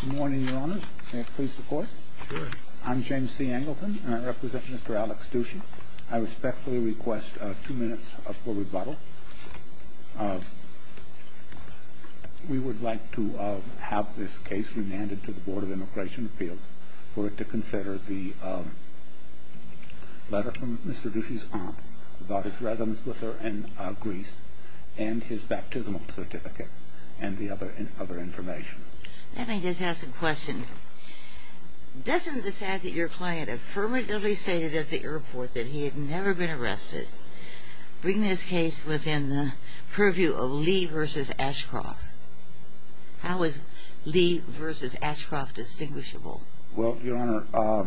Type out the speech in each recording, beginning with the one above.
Good morning, your honors. May I please report? Sure. I'm James C. Angleton, and I represent Mr. Alex Dushi. I respectfully request two minutes for rebuttal. We would like to have this case remanded to the Board of Immigration Appeals without his residence with her in Greece and his baptismal certificate and the other information. Let me just ask a question. Doesn't the fact that your client affirmatively stated at the airport that he had never been arrested bring this case within the purview of Lee v. Ashcroft? How is Lee v. Ashcroft distinguishable? Well, your honor,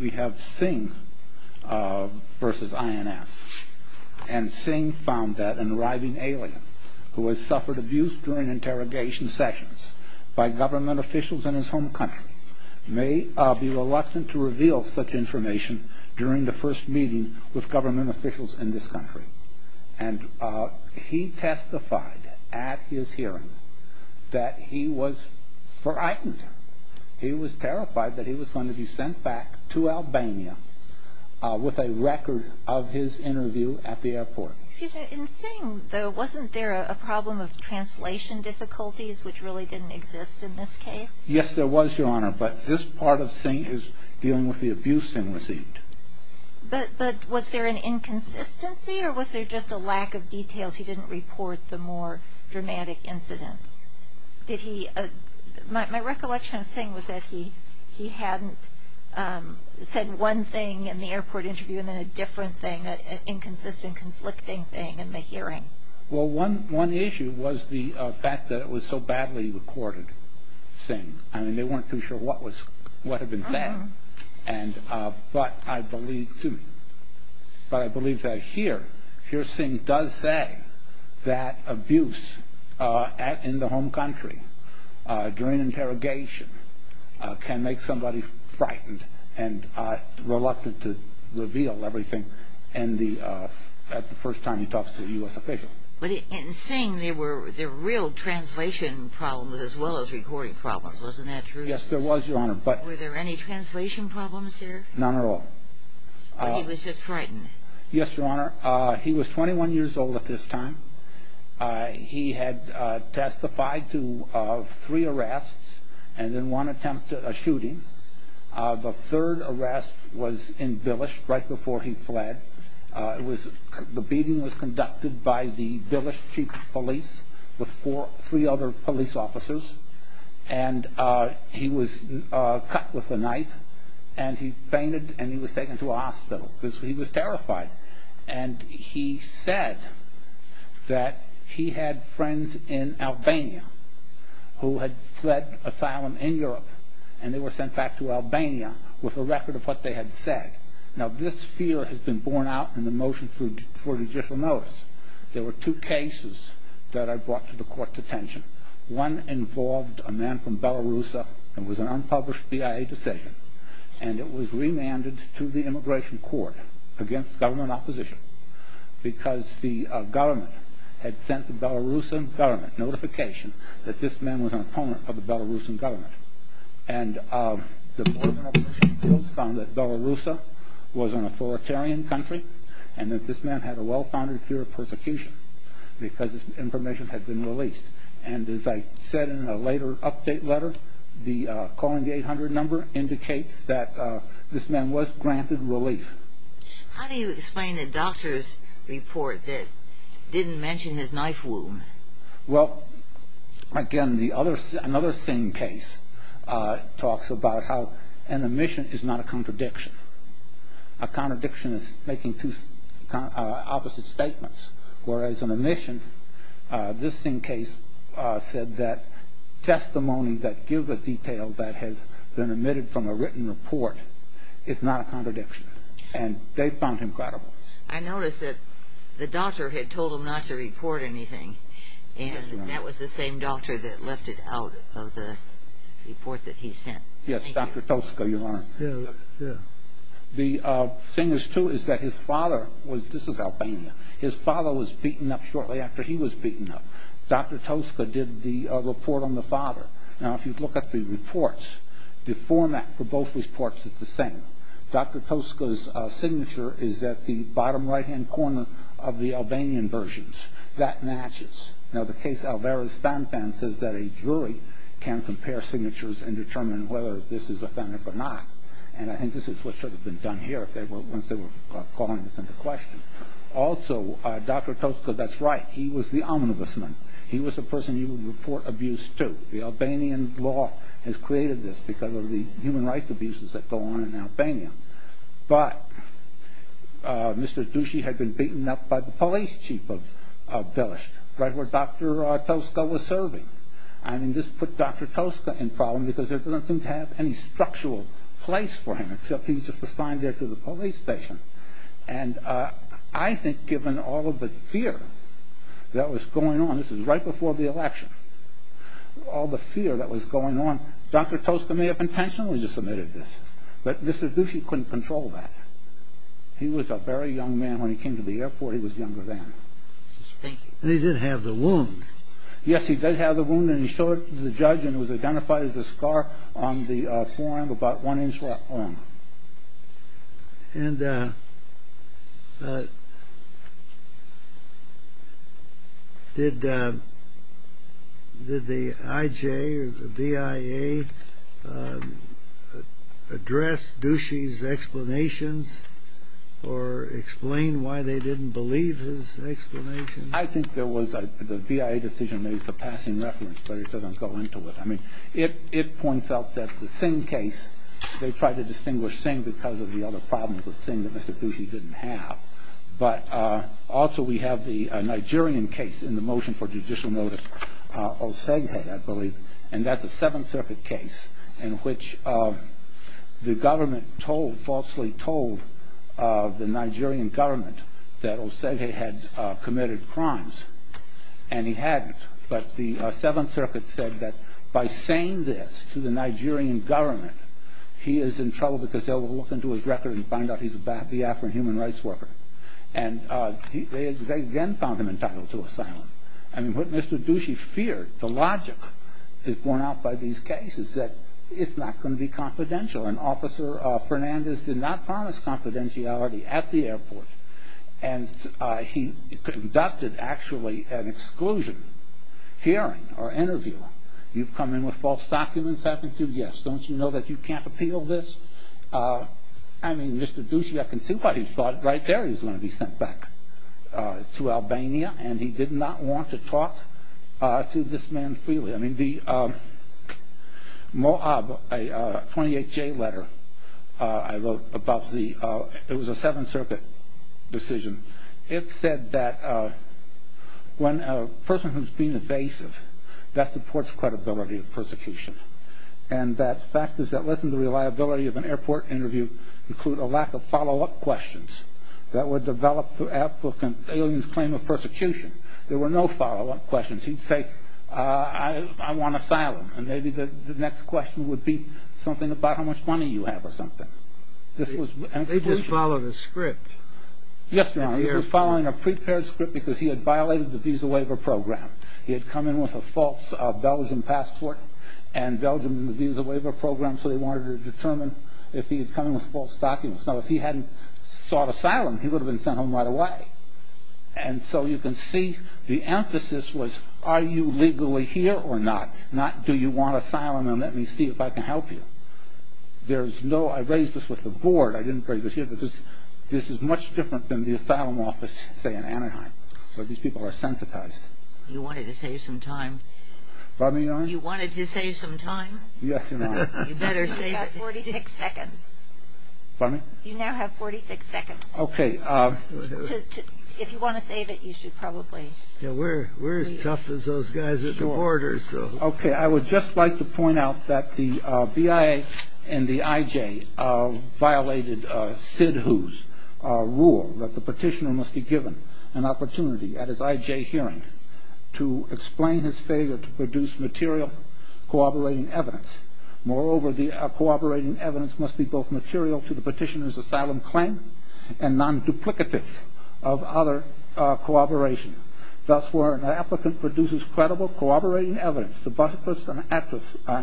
we have Singh v. INS. And Singh found that an arriving alien who had suffered abuse during interrogation sessions by government officials in his home country may be reluctant to reveal such information during the first meeting with government officials in this country. And he testified at his hearing that he was frightened. He was terrified that he was going to be sent back to Albania with a record of his interview at the airport. Excuse me, in Singh, though, wasn't there a problem of translation difficulties, which really didn't exist in this case? Yes, there was, your honor, but this part of Singh is dealing with the abuse Singh received. But was there an inconsistency, or was there just a lack of details? He didn't report the more dramatic incidents. My recollection of Singh was that he hadn't said one thing in the airport interview and then a different thing, an inconsistent, conflicting thing in the hearing. Well, one issue was the fact that it was so badly recorded, Singh. I mean, they weren't too sure what had been said. But I believe that here, here Singh does say that abuse in the home country during interrogation can make somebody frightened and reluctant to reveal everything at the first time he talks to a U.S. official. But in Singh, there were real translation problems as well as recording problems. Wasn't that true? Yes, there was, your honor. Were there any translation problems there? None at all. He was just frightened. Yes, your honor. He was 21 years old at this time. He had testified to three arrests and then one attempt at a shooting. The third arrest was in Billish right before he fled. The beating was conducted by the Billish chief of police with three other police officers. And he was cut with a knife and he fainted and he was taken to a hospital because he was terrified. And he said that he had friends in Albania who had fled asylum in Europe and they were sent back to Albania with a record of what they had said. Now, this fear has been borne out in the motion for judicial notice. There were two cases that I brought to the court's attention. One involved a man from Belarus. It was an unpublished BIA decision. And it was remanded to the immigration court against government opposition because the government had sent the Belarusian government notification that this man was an opponent of the Belarusian government. And the government opposition found that Belarus was an authoritarian country and that this man had a well-founded fear of persecution because this information had been released. And as I said in a later update letter, calling the 800 number indicates that this man was granted relief. How do you explain the doctor's report that didn't mention his knife wound? Well, again, another Singh case talks about how an omission is not a contradiction. A contradiction is making two opposite statements. Whereas an omission, this Singh case said that testimony that gives a detail that has been omitted from a written report is not a contradiction. And they found him credible. I noticed that the doctor had told him not to report anything, and that was the same doctor that left it out of the report that he sent. Yes, Dr. Tosca, you are. Yeah, yeah. The thing is, too, is that his father was ñ this is Albania. His father was beaten up shortly after he was beaten up. Dr. Tosca did the report on the father. Now, if you look at the reports, the format for both reports is the same. Dr. Tosca's signature is at the bottom right-hand corner of the Albanian versions. That matches. Now, the case Alvarez-Fanfan says that a jury can compare signatures and determine whether this is authentic or not. And I think this is what should have been done here once they were calling this into question. Also, Dr. Tosca, that's right, he was the omnibus man. He was the person you would report abuse to. The Albanian law has created this because of the human rights abuses that go on in Albania. But Mr. Dushi had been beaten up by the police chief of Velesht, right where Dr. Tosca was serving. I mean, this put Dr. Tosca in problem because there doesn't seem to have any structural place for him except he's just assigned there to the police station. And I think given all of the fear that was going on, this was right before the election, all the fear that was going on, Dr. Tosca may have intentionally just omitted this. But Mr. Dushi couldn't control that. He was a very young man. When he came to the airport, he was younger than. He did have the wound. Yes, he did have the wound, and he showed it to the judge, and it was identified as a scar on the forearm about one inch long. And did the IJ or the BIA address Dushi's explanations or explain why they didn't believe his explanations? I think there was a BIA decision. Maybe it's a passing reference, but it doesn't go into it. I mean, it points out that the Singh case, they tried to distinguish Singh because of the other problems with Singh that Mr. Dushi didn't have. But also we have the Nigerian case in the motion for judicial notice, Oseghe, I believe, and that's a Seventh Circuit case in which the government falsely told the Nigerian government that Oseghe had committed crimes, and he hadn't. But the Seventh Circuit said that by saying this to the Nigerian government, he is in trouble because they will look into his record and find out he's a BIA or a human rights worker. And they then found him entitled to asylum. I mean, what Mr. Dushi feared, the logic borne out by these cases, is that it's not going to be confidential. And Officer Fernandez did not promise confidentiality at the airport, and he conducted actually an exclusion hearing or interview. You've come in with false documents, haven't you? Yes. Don't you know that you can't appeal this? I mean, Mr. Dushi, I can see why he thought right there he was going to be sent back to Albania, and he did not want to talk to this man freely. I mean, the MOAB, a 28-J letter I wrote about the – it was a Seventh Circuit decision. It said that when a person who's been evasive, that supports credibility of persecution. And that fact is that less than the reliability of an airport interview include a lack of follow-up questions that were developed through applicants' claim of persecution. There were no follow-up questions. He'd say, I want asylum. And maybe the next question would be something about how much money you have or something. This was an exclusion. They just followed a script. Yes, Your Honor. They were following a prepared script because he had violated the visa waiver program. He had come in with a false Belgian passport and Belgium visa waiver program, so they wanted to determine if he had come in with false documents. Now, if he hadn't sought asylum, he would have been sent home right away. And so you can see the emphasis was are you legally here or not, not do you want asylum and let me see if I can help you. There's no – I raised this with the board. I didn't raise it here. This is much different than the asylum office, say, in Anaheim, where these people are sensitized. You wanted to save some time. Pardon me, Your Honor? You wanted to save some time. Yes, Your Honor. You better save it. You've got 46 seconds. Pardon me? You now have 46 seconds. Okay. If you want to save it, you should probably. We're as tough as those guys at the border. Okay. I would just like to point out that the BIA and the IJ violated Sid Hu's rule that the petitioner must be given an opportunity at his IJ hearing to explain his failure to produce material cooperating evidence. Moreover, the cooperating evidence must be both material to the petitioner's asylum claim and non-duplicative of other cooperation. Thus, where an applicant produces credible cooperating evidence to bust an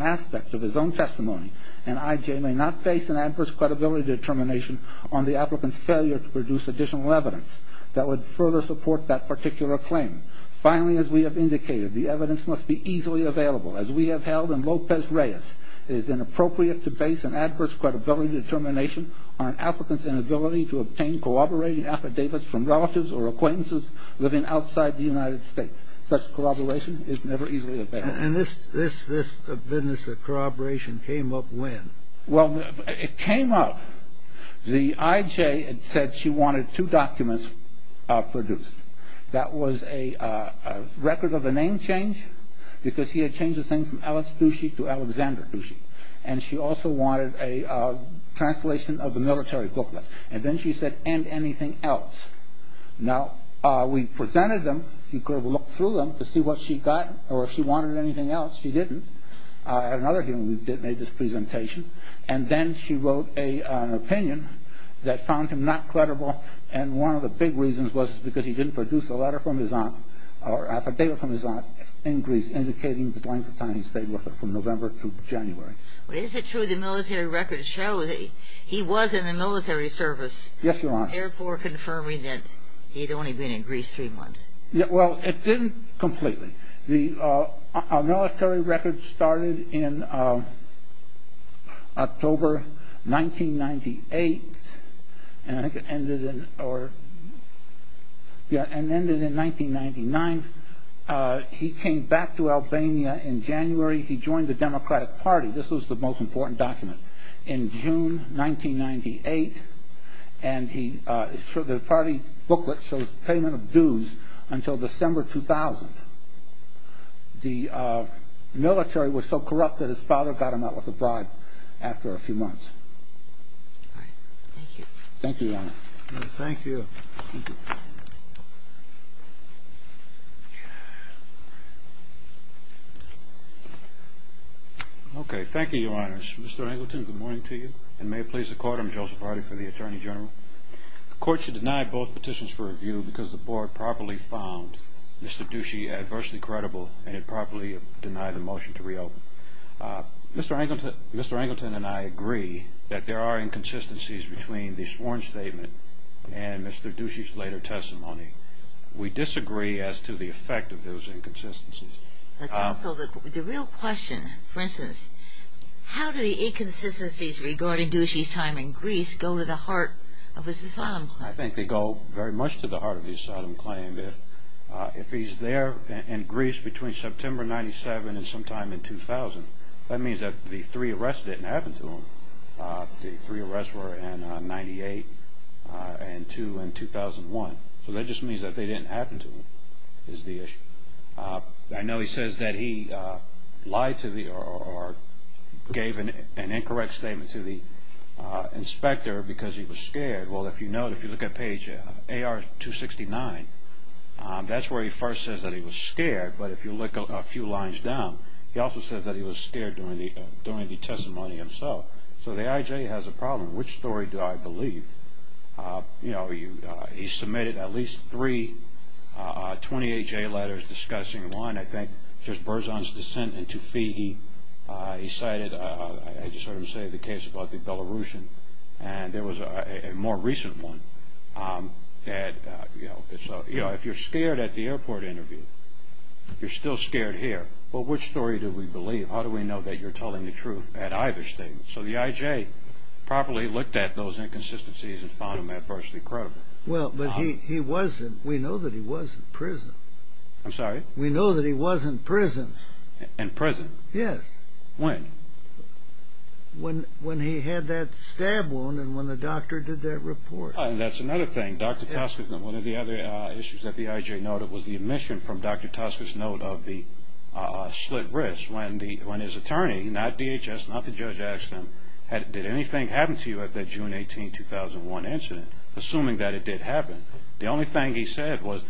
aspect of his own testimony, an IJ may not face an adverse credibility determination on the applicant's failure to produce additional evidence that would further support that particular claim. Finally, as we have indicated, the evidence must be easily available. As we have held in Lopez-Reyes, it is inappropriate to base an adverse credibility determination on an applicant's inability to obtain cooperating affidavits from relatives or acquaintances living outside the United States. Such corroboration is never easily available. And this business of corroboration came up when? Well, it came up. The IJ had said she wanted two documents produced. That was a record of a name change because he had changed his name from Alex Dushy to Alexander Dushy. And she also wanted a translation of the military booklet. And then she said, and anything else. Now, we presented them. She could have looked through them to see what she got or if she wanted anything else. She didn't. At another hearing, we made this presentation. And then she wrote an opinion that found him not credible. And one of the big reasons was because he didn't produce a letter from his aunt or affidavit from his aunt in Greece indicating the length of time he stayed with her from November to January. But is it true the military records show that he was in the military service? Yes, Your Honor. Therefore confirming that he had only been in Greece three months. Well, it didn't completely. Our military records started in October 1998 and ended in 1999. He came back to Albania in January. He joined the Democratic Party. This was the most important document. And he was a member of the Democratic Party in June 1998. And the party booklet shows payment of dues until December 2000. The military was so corrupt that his father got him out with a bribe after a few months. Thank you. Thank you, Your Honor. Thank you. Thank you. Okay. Thank you, Your Honors. Mr. Angleton, good morning to you. And may it please the Court, I'm Joseph Hardy for the Attorney General. The Court should deny both petitions for review because the Board properly found Mr. Ducey adversely credible and it properly denied the motion to reopen. Mr. Angleton and I agree that there are inconsistencies between the sworn statement and Mr. Ducey's later testimony. We disagree as to the effect of those inconsistencies. Counsel, the real question, for instance, how do the inconsistencies regarding Ducey's time in Greece go to the heart of his asylum claim? I think they go very much to the heart of his asylum claim. If he's there in Greece between September 97 and sometime in 2000, that means that the three arrests didn't happen to him. The three arrests were in 98 and 2 in 2001. So that just means that they didn't happen to him is the issue. I know he says that he lied to the or gave an incorrect statement to the inspector because he was scared. Well, if you look at page AR-269, that's where he first says that he was scared. But if you look a few lines down, he also says that he was scared during the testimony himself. So the IJ has a problem. Which story do I believe? He submitted at least three 28-J letters discussing one, I think, just Berzon's dissent in Tufi. He cited, as you sort of say, the case about the Belarusian. And there was a more recent one. If you're scared at the airport interview, you're still scared here. Well, which story do we believe? How do we know that you're telling the truth at either statement? So the IJ properly looked at those inconsistencies and found them adversely credible. Well, but we know that he was in prison. I'm sorry? We know that he was in prison. In prison? Yes. When? When he had that stab wound and when the doctor did that report. That's another thing. Dr. Toskes, one of the other issues that the IJ noted was the omission from Dr. Toskes' note of the slit wrist. When his attorney, not DHS, not the judge, asked him, did anything happen to you at that June 18, 2001 incident, assuming that it did happen, the only thing he said was,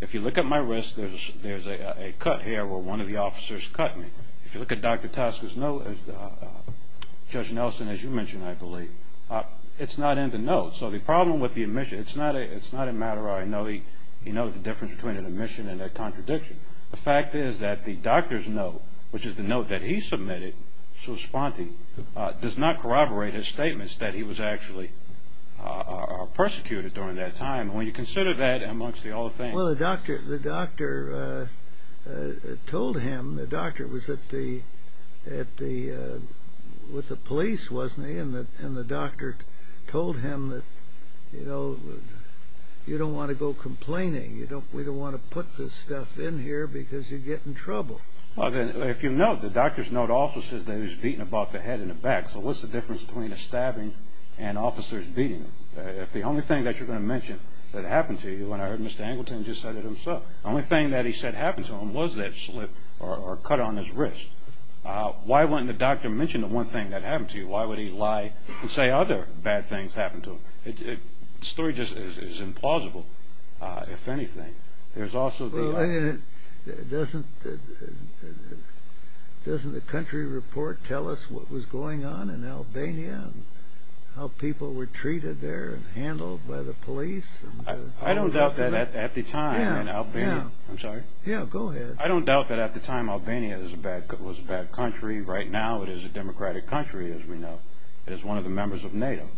if you look at my wrist, there's a cut here where one of the officers cut me. If you look at Dr. Toskes' note, Judge Nelson, as you mentioned, I believe, it's not in the note. So the problem with the omission, it's not a matter of I know the difference between an omission and a contradiction. The fact is that the doctor's note, which is the note that he submitted, does not corroborate his statements that he was actually persecuted during that time. When you consider that amongst the other things. Well, the doctor told him, the doctor was with the police, wasn't he? And the doctor told him that, you know, you don't want to go complaining. We don't want to put this stuff in here because you'd get in trouble. Well, then, if you note, the doctor's note also says that he was beaten about the head and the back. So what's the difference between a stabbing and officers beating? If the only thing that you're going to mention that happened to you, and I heard Mr. Angleton just said it himself, the only thing that he said happened to him was that slip or cut on his wrist. Why wouldn't the doctor mention the one thing that happened to you? Why would he lie and say other bad things happened to him? The story just is implausible, if anything. Well, doesn't the country report tell us what was going on in Albania and how people were treated there and handled by the police? I don't doubt that at the time in Albania. I'm sorry? Yeah, go ahead. I don't doubt that at the time Albania was a bad country. Right now it is a democratic country, as we know. It is one of the members of NATO.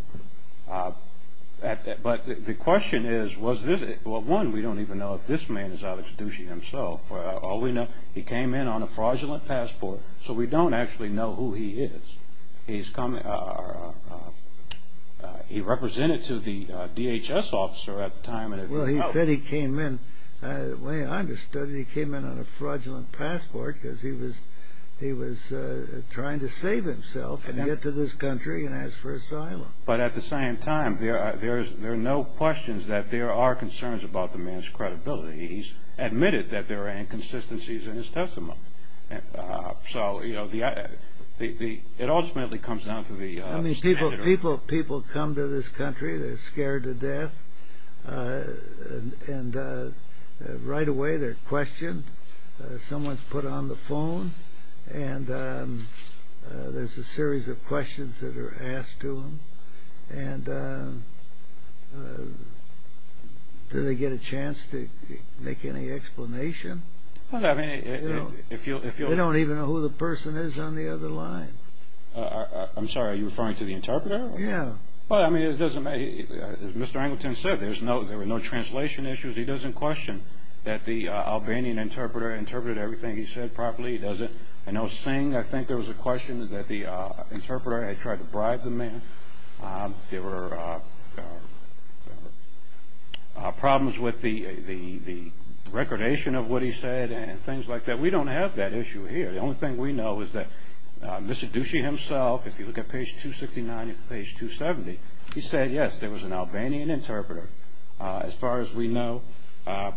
But the question is, was this it? Well, one, we don't even know if this man is out executing himself. All we know, he came in on a fraudulent passport, so we don't actually know who he is. He represented to the DHS officer at the time. Well, he said he came in. The way I understood it, he came in on a fraudulent passport because he was trying to save himself and get to this country and ask for asylum. But at the same time, there are no questions that there are concerns about the man's credibility. He's admitted that there are inconsistencies in his testimony. So, you know, it ultimately comes down to the standard. I mean, people come to this country. Someone's put on the phone, and there's a series of questions that are asked to them. And do they get a chance to make any explanation? Well, I mean, if you'll... They don't even know who the person is on the other line. I'm sorry, are you referring to the interpreter? Yeah. Well, I mean, it doesn't matter. As Mr. Angleton said, there were no translation issues. He doesn't question that the Albanian interpreter interpreted everything he said properly. He doesn't. I know Singh, I think there was a question that the interpreter had tried to bribe the man. There were problems with the recordation of what he said and things like that. We don't have that issue here. The only thing we know is that Mr. Dushi himself, if you look at page 269 and page 270, he said, yes, there was an Albanian interpreter. As far as we know,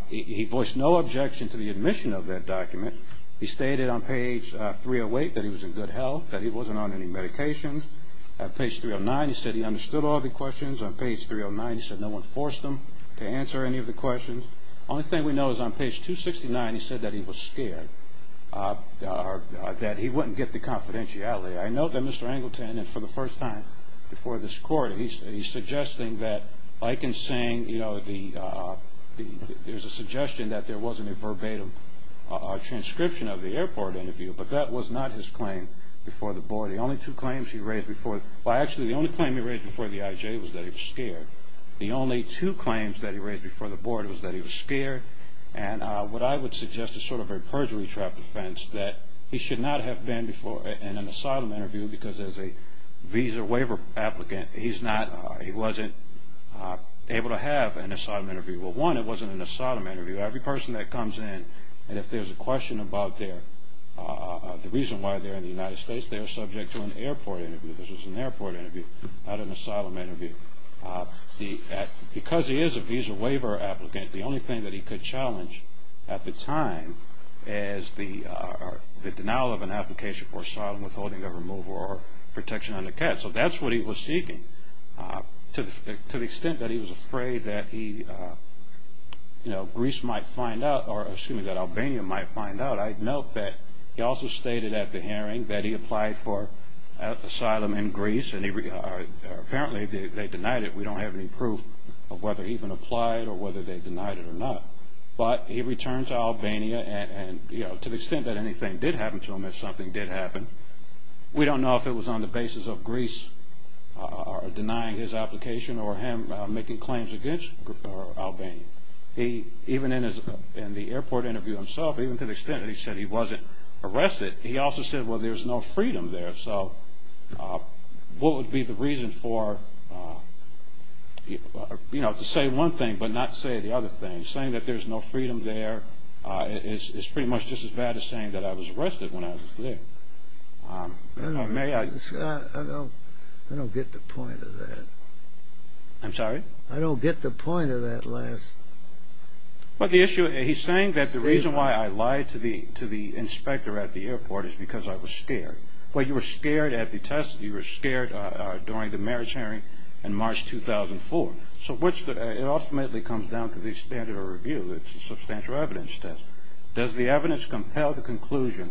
he voiced no objection to the admission of that document. He stated on page 308 that he was in good health, that he wasn't on any medication. Page 309, he said he understood all the questions. On page 309, he said no one forced him to answer any of the questions. The only thing we know is on page 269, he said that he was scared, that he wouldn't get the confidentiality. I note that Mr. Angleton, for the first time before this court, he's suggesting that, like in Singh, there's a suggestion that there wasn't a verbatim transcription of the airport interview, but that was not his claim before the board. The only two claims he raised before the IJ was that he was scared. The only two claims that he raised before the board was that he was scared. What I would suggest is sort of a perjury trap defense, that he should not have been in an asylum interview because as a visa waiver applicant, he wasn't able to have an asylum interview. Well, one, it wasn't an asylum interview. Every person that comes in, and if there's a question about the reason why they're in the United States, they're subject to an airport interview. This was an airport interview, not an asylum interview. Because he is a visa waiver applicant, the only thing that he could challenge at the time is the denial of an application for asylum withholding of removal or protection under CAT. So that's what he was seeking. To the extent that he was afraid that Greece might find out, or excuse me, that Albania might find out, I note that he also stated at the hearing that he applied for asylum in Greece, and apparently they denied it. We don't have any proof of whether he even applied or whether they denied it or not. But he returned to Albania, and to the extent that anything did happen to him, if something did happen, we don't know if it was on the basis of Greece denying his application or him making claims against Albania. Even in the airport interview himself, even to the extent that he said he wasn't arrested, he also said, well, there's no freedom there. So what would be the reason for, you know, to say one thing but not say the other thing, saying that there's no freedom there is pretty much just as bad as saying that I was arrested when I was there. I don't get the point of that. I'm sorry? I don't get the point of that last statement. He's saying that the reason why I lied to the inspector at the airport is because I was scared. Well, you were scared at the test. You were scared during the marriage hearing in March 2004. So it ultimately comes down to the standard of review. It's a substantial evidence test. Does the evidence compel the conclusion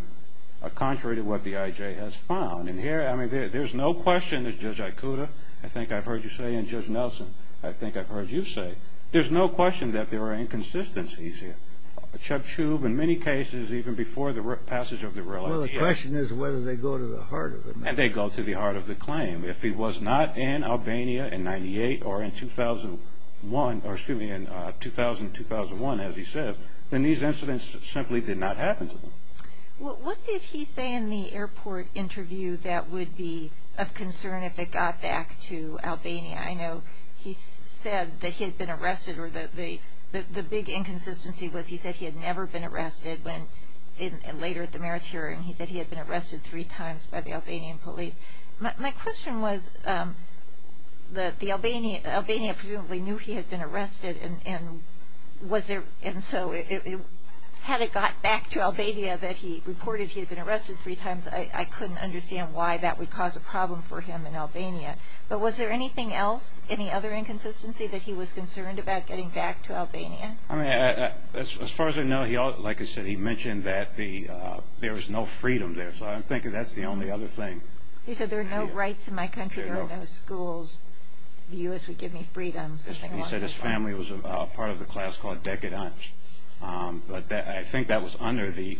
contrary to what the I.J. has found? And here, I mean, there's no question that Judge Aikuda, I think I've heard you say, and Judge Nelson, I think I've heard you say, there's no question that there are inconsistencies here. Chuck Shube, in many cases, even before the passage of the real I.J. The question is whether they go to the heart of it. And they go to the heart of the claim. If he was not in Albania in 98 or in 2001, as he says, then these incidents simply did not happen to him. What did he say in the airport interview that would be of concern if it got back to Albania? I know he said that he had been arrested or that the big inconsistency was he said he had never been arrested when later at the mayor's hearing he said he had been arrested three times by the Albanian police. My question was that Albania presumably knew he had been arrested, and so had it got back to Albania that he reported he had been arrested three times, I couldn't understand why that would cause a problem for him in Albania. But was there anything else, any other inconsistency that he was concerned about getting back to Albania? As far as I know, like I said, he mentioned that there was no freedom there. So I'm thinking that's the only other thing. He said there are no rights in my country. There are no schools. The U.S. would give me freedom. He said his family was part of the class called Dekadans. But I think that was under the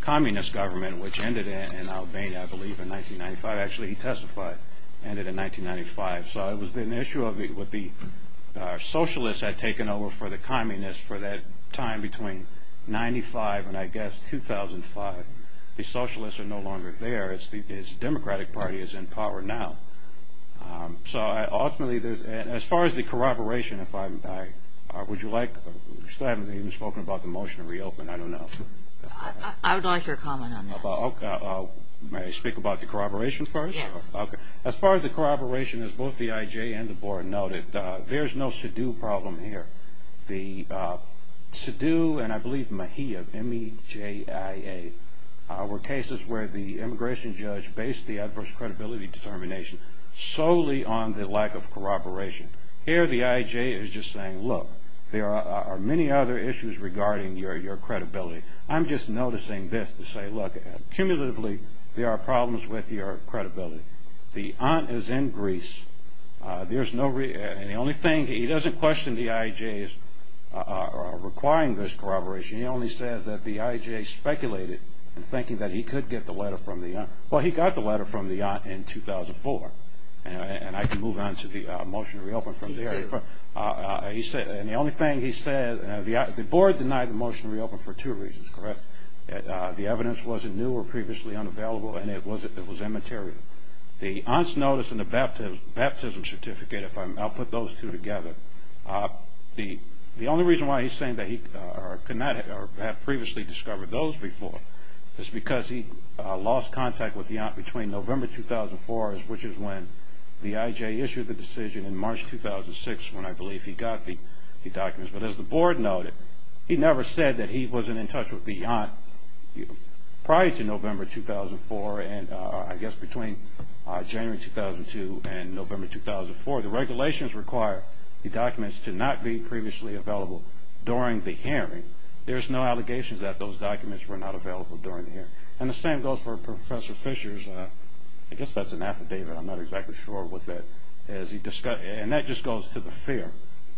communist government, which ended in Albania, I believe, in 1995. Actually, he testified it ended in 1995. So it was an issue of what the socialists had taken over for the communists for that time between 1995 and, I guess, 2005. The socialists are no longer there. His Democratic Party is in power now. So ultimately, as far as the corroboration, would you like, you still haven't even spoken about the motion to reopen, I don't know. I would like your comment on that. May I speak about the corroboration first? Yes. Okay. As far as the corroboration, as both the IJ and the board noted, there's no SIDU problem here. The SIDU and, I believe, MHIA, M-E-J-I-A, were cases where the immigration judge based the adverse credibility determination solely on the lack of corroboration. Here the IJ is just saying, look, there are many other issues regarding your credibility. I'm just noticing this to say, look, cumulatively, there are problems with your credibility. The aunt is in Greece. And the only thing, he doesn't question the IJ's requiring this corroboration. He only says that the IJ speculated in thinking that he could get the letter from the aunt. Well, he got the letter from the aunt in 2004. And I can move on to the motion to reopen from there. And the only thing he said, the board denied the motion to reopen for two reasons, correct? The evidence wasn't new or previously unavailable, and it was immaterial. The aunt's notice and the baptism certificate, if I put those two together, the only reason why he's saying that he could not have previously discovered those before is because he lost contact with the aunt between November 2004, which is when the IJ issued the decision in March 2006 when I believe he got the documents. But as the board noted, he never said that he wasn't in touch with the aunt prior to November 2004, and I guess between January 2002 and November 2004. The regulations require the documents to not be previously available during the hearing. There's no allegations that those documents were not available during the hearing. And the same goes for Professor Fishers. I guess that's an affidavit. I'm not exactly sure what that is. And that just goes to the fear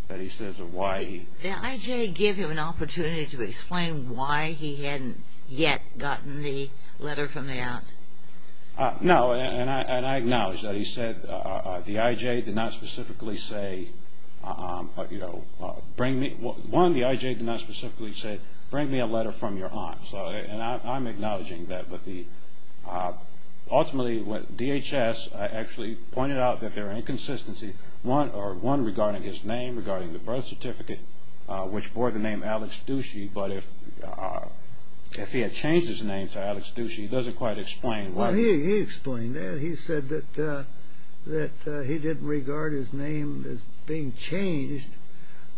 that he says of why he... Did the IJ give him an opportunity to explain why he hadn't yet gotten the letter from the aunt? No, and I acknowledge that. He said the IJ did not specifically say, you know, bring me... One, the IJ did not specifically say, bring me a letter from your aunt. And I'm acknowledging that. But ultimately, DHS actually pointed out that there are inconsistencies, one regarding his name, regarding the birth certificate, which bore the name Alex Ducey. But if he had changed his name to Alex Ducey, it doesn't quite explain why. Well, he explained that. He said that he didn't regard his name as being changed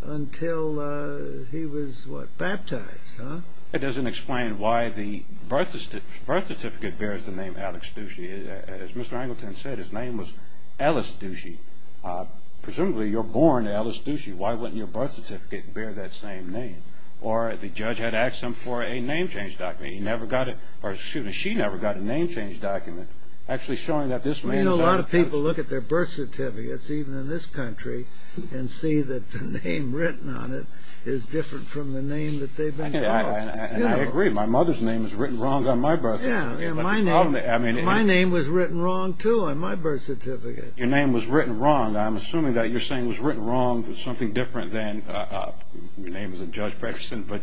until he was, what, baptized, huh? It doesn't explain why the birth certificate bears the name Alex Ducey. As Mr. Angleton said, his name was Ellis Ducey. Presumably, you're born Ellis Ducey. Why wouldn't your birth certificate bear that same name? Or the judge had asked him for a name change document. He never got it, or excuse me, she never got a name change document actually showing that this man is... You know, a lot of people look at their birth certificates, even in this country, and see that the name written on it is different from the name that they've been called. And I agree. My mother's name is written wrong on my birth certificate. Yeah. My name was written wrong, too, on my birth certificate. Your name was written wrong. I'm assuming that you're saying it was written wrong with something different than... Your name isn't Judge Pregerson, but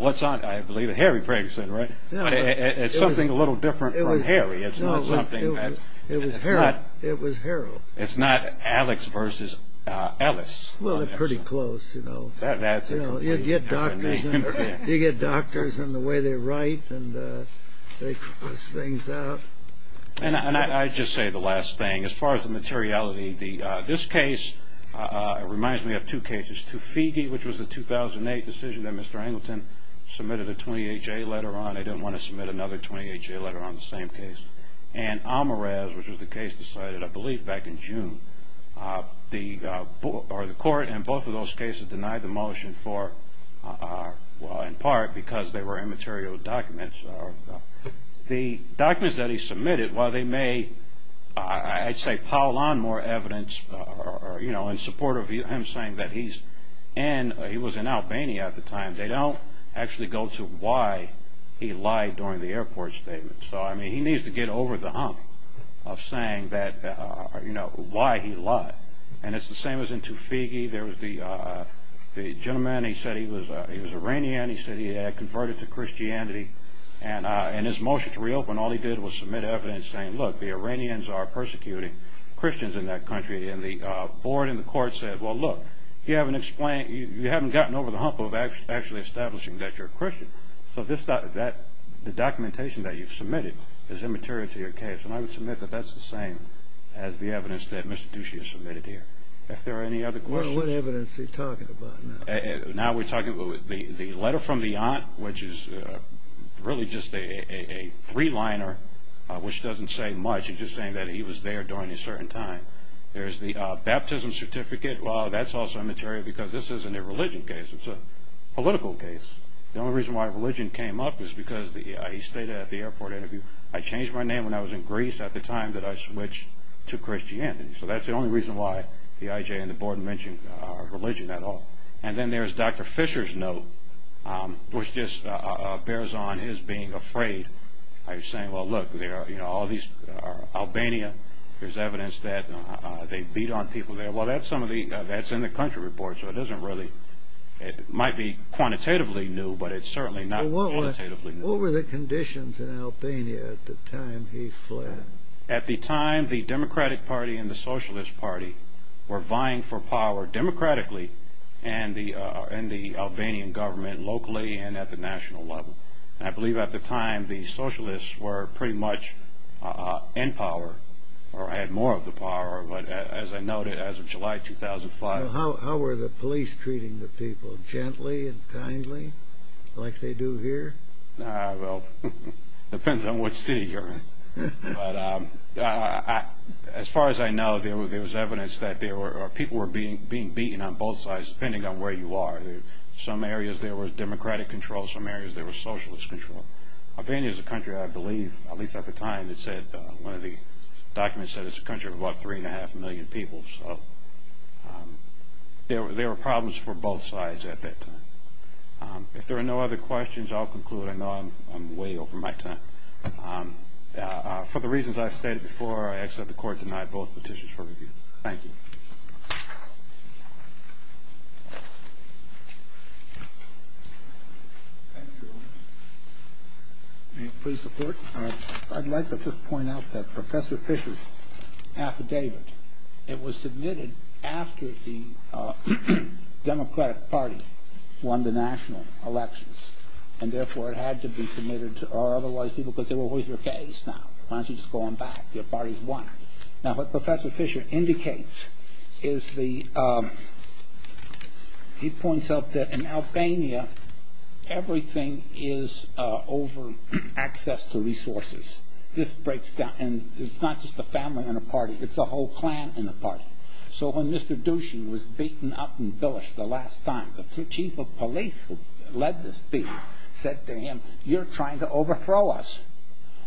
what's on it? I believe it's Harry Pregerson, right? It's something a little different from Harry. It's not something that... It was Harold. It's not Alex versus Ellis. Well, they're pretty close, you know. You get doctors and the way they write, and they cross things out. And I'll just say the last thing. As far as the materiality, this case reminds me of two cases. Toofiegee, which was a 2008 decision that Mr. Angleton submitted a 28-J letter on. They didn't want to submit another 28-J letter on the same case. And Almaraz, which was the case decided, I believe, back in June. The court in both of those cases denied the motion for, in part, because they were immaterial documents. The documents that he submitted, while they may, I'd say, pile on more evidence in support of him saying that he was in Albania at the time, they don't actually go to why he lied during the airport statement. So, I mean, he needs to get over the hump of saying why he lied. And it's the same as in Toofiegee. There was the gentleman, he said he was Iranian. He said he had converted to Christianity. And in his motion to reopen, all he did was submit evidence saying, look, the Iranians are persecuting Christians in that country. And the board in the court said, well, look, So the documentation that you've submitted is immaterial to your case. And I would submit that that's the same as the evidence that Mr. Ducey has submitted here. If there are any other questions. Well, what evidence are you talking about now? Now we're talking about the letter from the aunt, which is really just a three-liner, which doesn't say much. It's just saying that he was there during a certain time. There's the baptism certificate. Well, that's also immaterial because this isn't a religion case. It's a political case. The only reason why religion came up was because he stayed at the airport interview. I changed my name when I was in Greece at the time that I switched to Christianity. So that's the only reason why the IJ and the board mentioned religion at all. And then there's Dr. Fisher's note, which just bears on his being afraid. He's saying, well, look, there are all these, Albania, there's evidence that they beat on people there. Well, that's in the country report, so it doesn't really, it might be quantitatively new, but it's certainly not quantitatively new. What were the conditions in Albania at the time he fled? At the time, the Democratic Party and the Socialist Party were vying for power democratically and the Albanian government locally and at the national level. I believe at the time, the Socialists were pretty much in power or had more of the power, but as I noted, as of July 2005. How were the police treating the people, gently and kindly, like they do here? Well, it depends on what city you're in. But as far as I know, there was evidence that people were being beaten on both sides, depending on where you are. In some areas, there was democratic control. In some areas, there was socialist control. Albania is a country, I believe, at least at the time, one of the documents said it's a country of about three and a half million people. So there were problems for both sides at that time. If there are no other questions, I'll conclude. I know I'm way over my time. For the reasons I've stated before, I accept the court denied both petitions for review. Thank you. Thank you. May it please the Court? I'd like to just point out that Professor Fisher's affidavit, it was submitted after the Democratic Party won the national elections, and therefore it had to be submitted or otherwise people could say, well, who's your case now? Why don't you just go on back? Your party's won. Now, what Professor Fisher indicates is he points out that in Albania, everything is over access to resources. This breaks down. And it's not just the family in a party. It's a whole clan in a party. So when Mr. Dushan was beaten up and billished the last time, the chief of police who led this beat said to him, you're trying to overthrow us.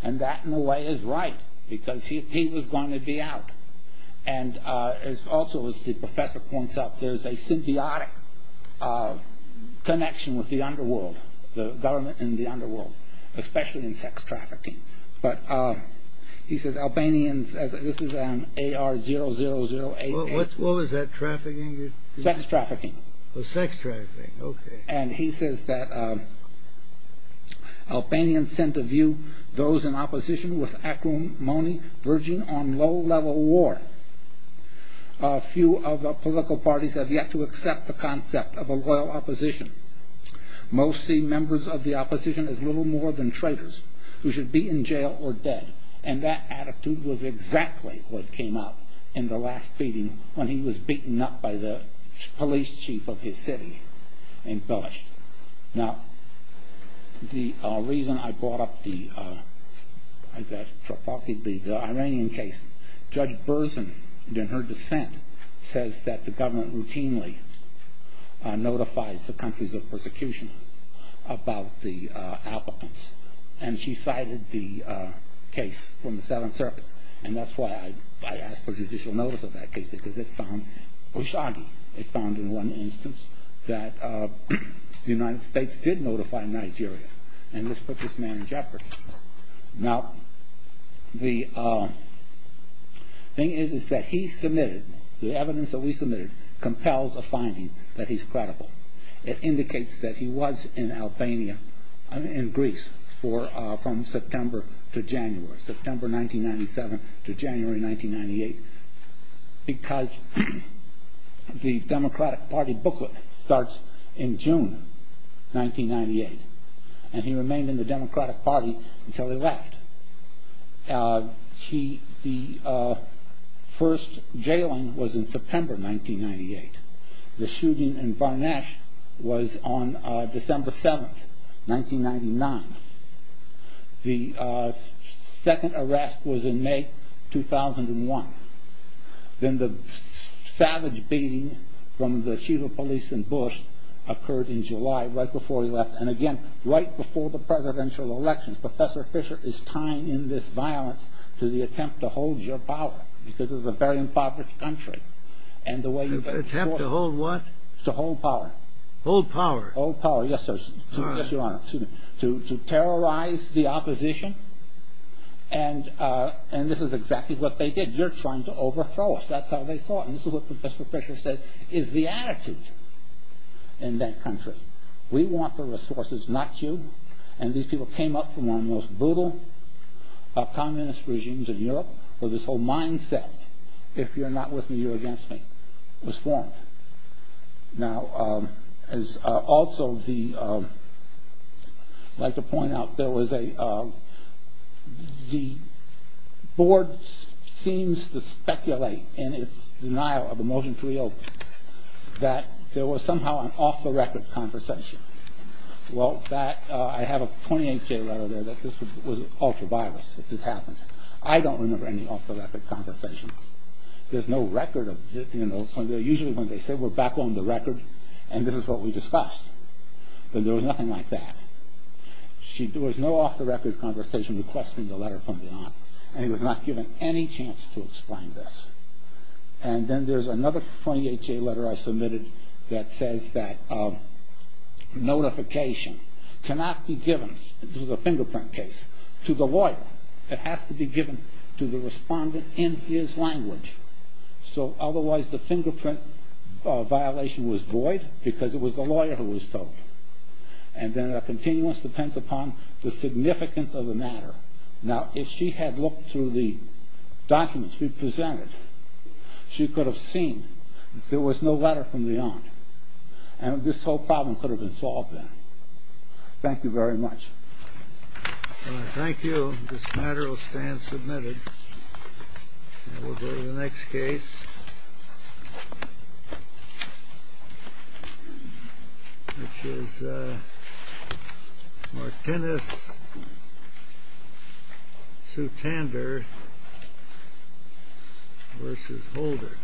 And that, in a way, is right because he was going to be out. And also, as the professor points out, there's a symbiotic connection with the underworld, the government in the underworld, especially in sex trafficking. But he says Albanians, this is AR00088. What was that, trafficking? Sex trafficking. Oh, sex trafficking. Okay. And he says that Albanians tend to view those in opposition with acrimony verging on low-level war. A few of the political parties have yet to accept the concept of a loyal opposition. Most see members of the opposition as little more than traitors who should be in jail or dead. And that attitude was exactly what came out in the last beating when he was beaten up by the police chief of his city and billished. Now, the reason I brought up the Iranian case, Judge Burson, in her dissent, says that the government routinely notifies the countries of persecution about the applicants. And she cited the case from the Seventh Circuit. And that's why I asked for judicial notice of that case, because it found Bushagi. It found in one instance that the United States did notify Nigeria. And this put this man in jeopardy. Now, the thing is that he submitted, the evidence that we submitted, compels a finding that he's credible. It indicates that he was in Albania, in Greece, from September to January. September 1997 to January 1998. Because the Democratic Party booklet starts in June 1998. And he remained in the Democratic Party until he left. The first jailing was in September 1998. The shooting in Varnash was on December 7th, 1999. The second arrest was in May 2001. Then the savage beating from the chief of police in Bush occurred in July, right before he left. And again, right before the presidential elections. Professor Fisher is tying in this violence to the attempt to hold your power. Because this is a very impoverished country. An attempt to hold what? Hold power? Hold power, yes, sir. Yes, your honor. To terrorize the opposition. And this is exactly what they did. You're trying to overthrow us. That's how they thought. And this is what Professor Fisher says is the attitude in that country. We want the resources, not you. And these people came up from one of the most brutal communist regimes in Europe, where this whole mindset, if you're not with me, you're against me, was formed. Now, as also the, I'd like to point out, there was a, the board seems to speculate, in its denial of the motion to reopen, that there was somehow an off-the-record conversation. Well, that, I have a 28-K letter there that this was ultra-violence, that this happened. I don't remember any off-the-record conversation. There's no record of, you know, usually when they say we're back on the record and this is what we discussed. But there was nothing like that. There was no off-the-record conversation requesting the letter from the aunt. And he was not given any chance to explain this. And then there's another 28-K letter I submitted that says that notification cannot be given, this is a fingerprint case, to the lawyer. It has to be given to the respondent in his language. So otherwise the fingerprint violation was void because it was the lawyer who was told. And then a continuance depends upon the significance of the matter. Now, if she had looked through the documents we presented, she could have seen there was no letter from the aunt. And this whole problem could have been solved then. Thank you very much. And I thank you. This matter will stand submitted. And we'll go to the next case, which is Martinez-Sutander v. Holder.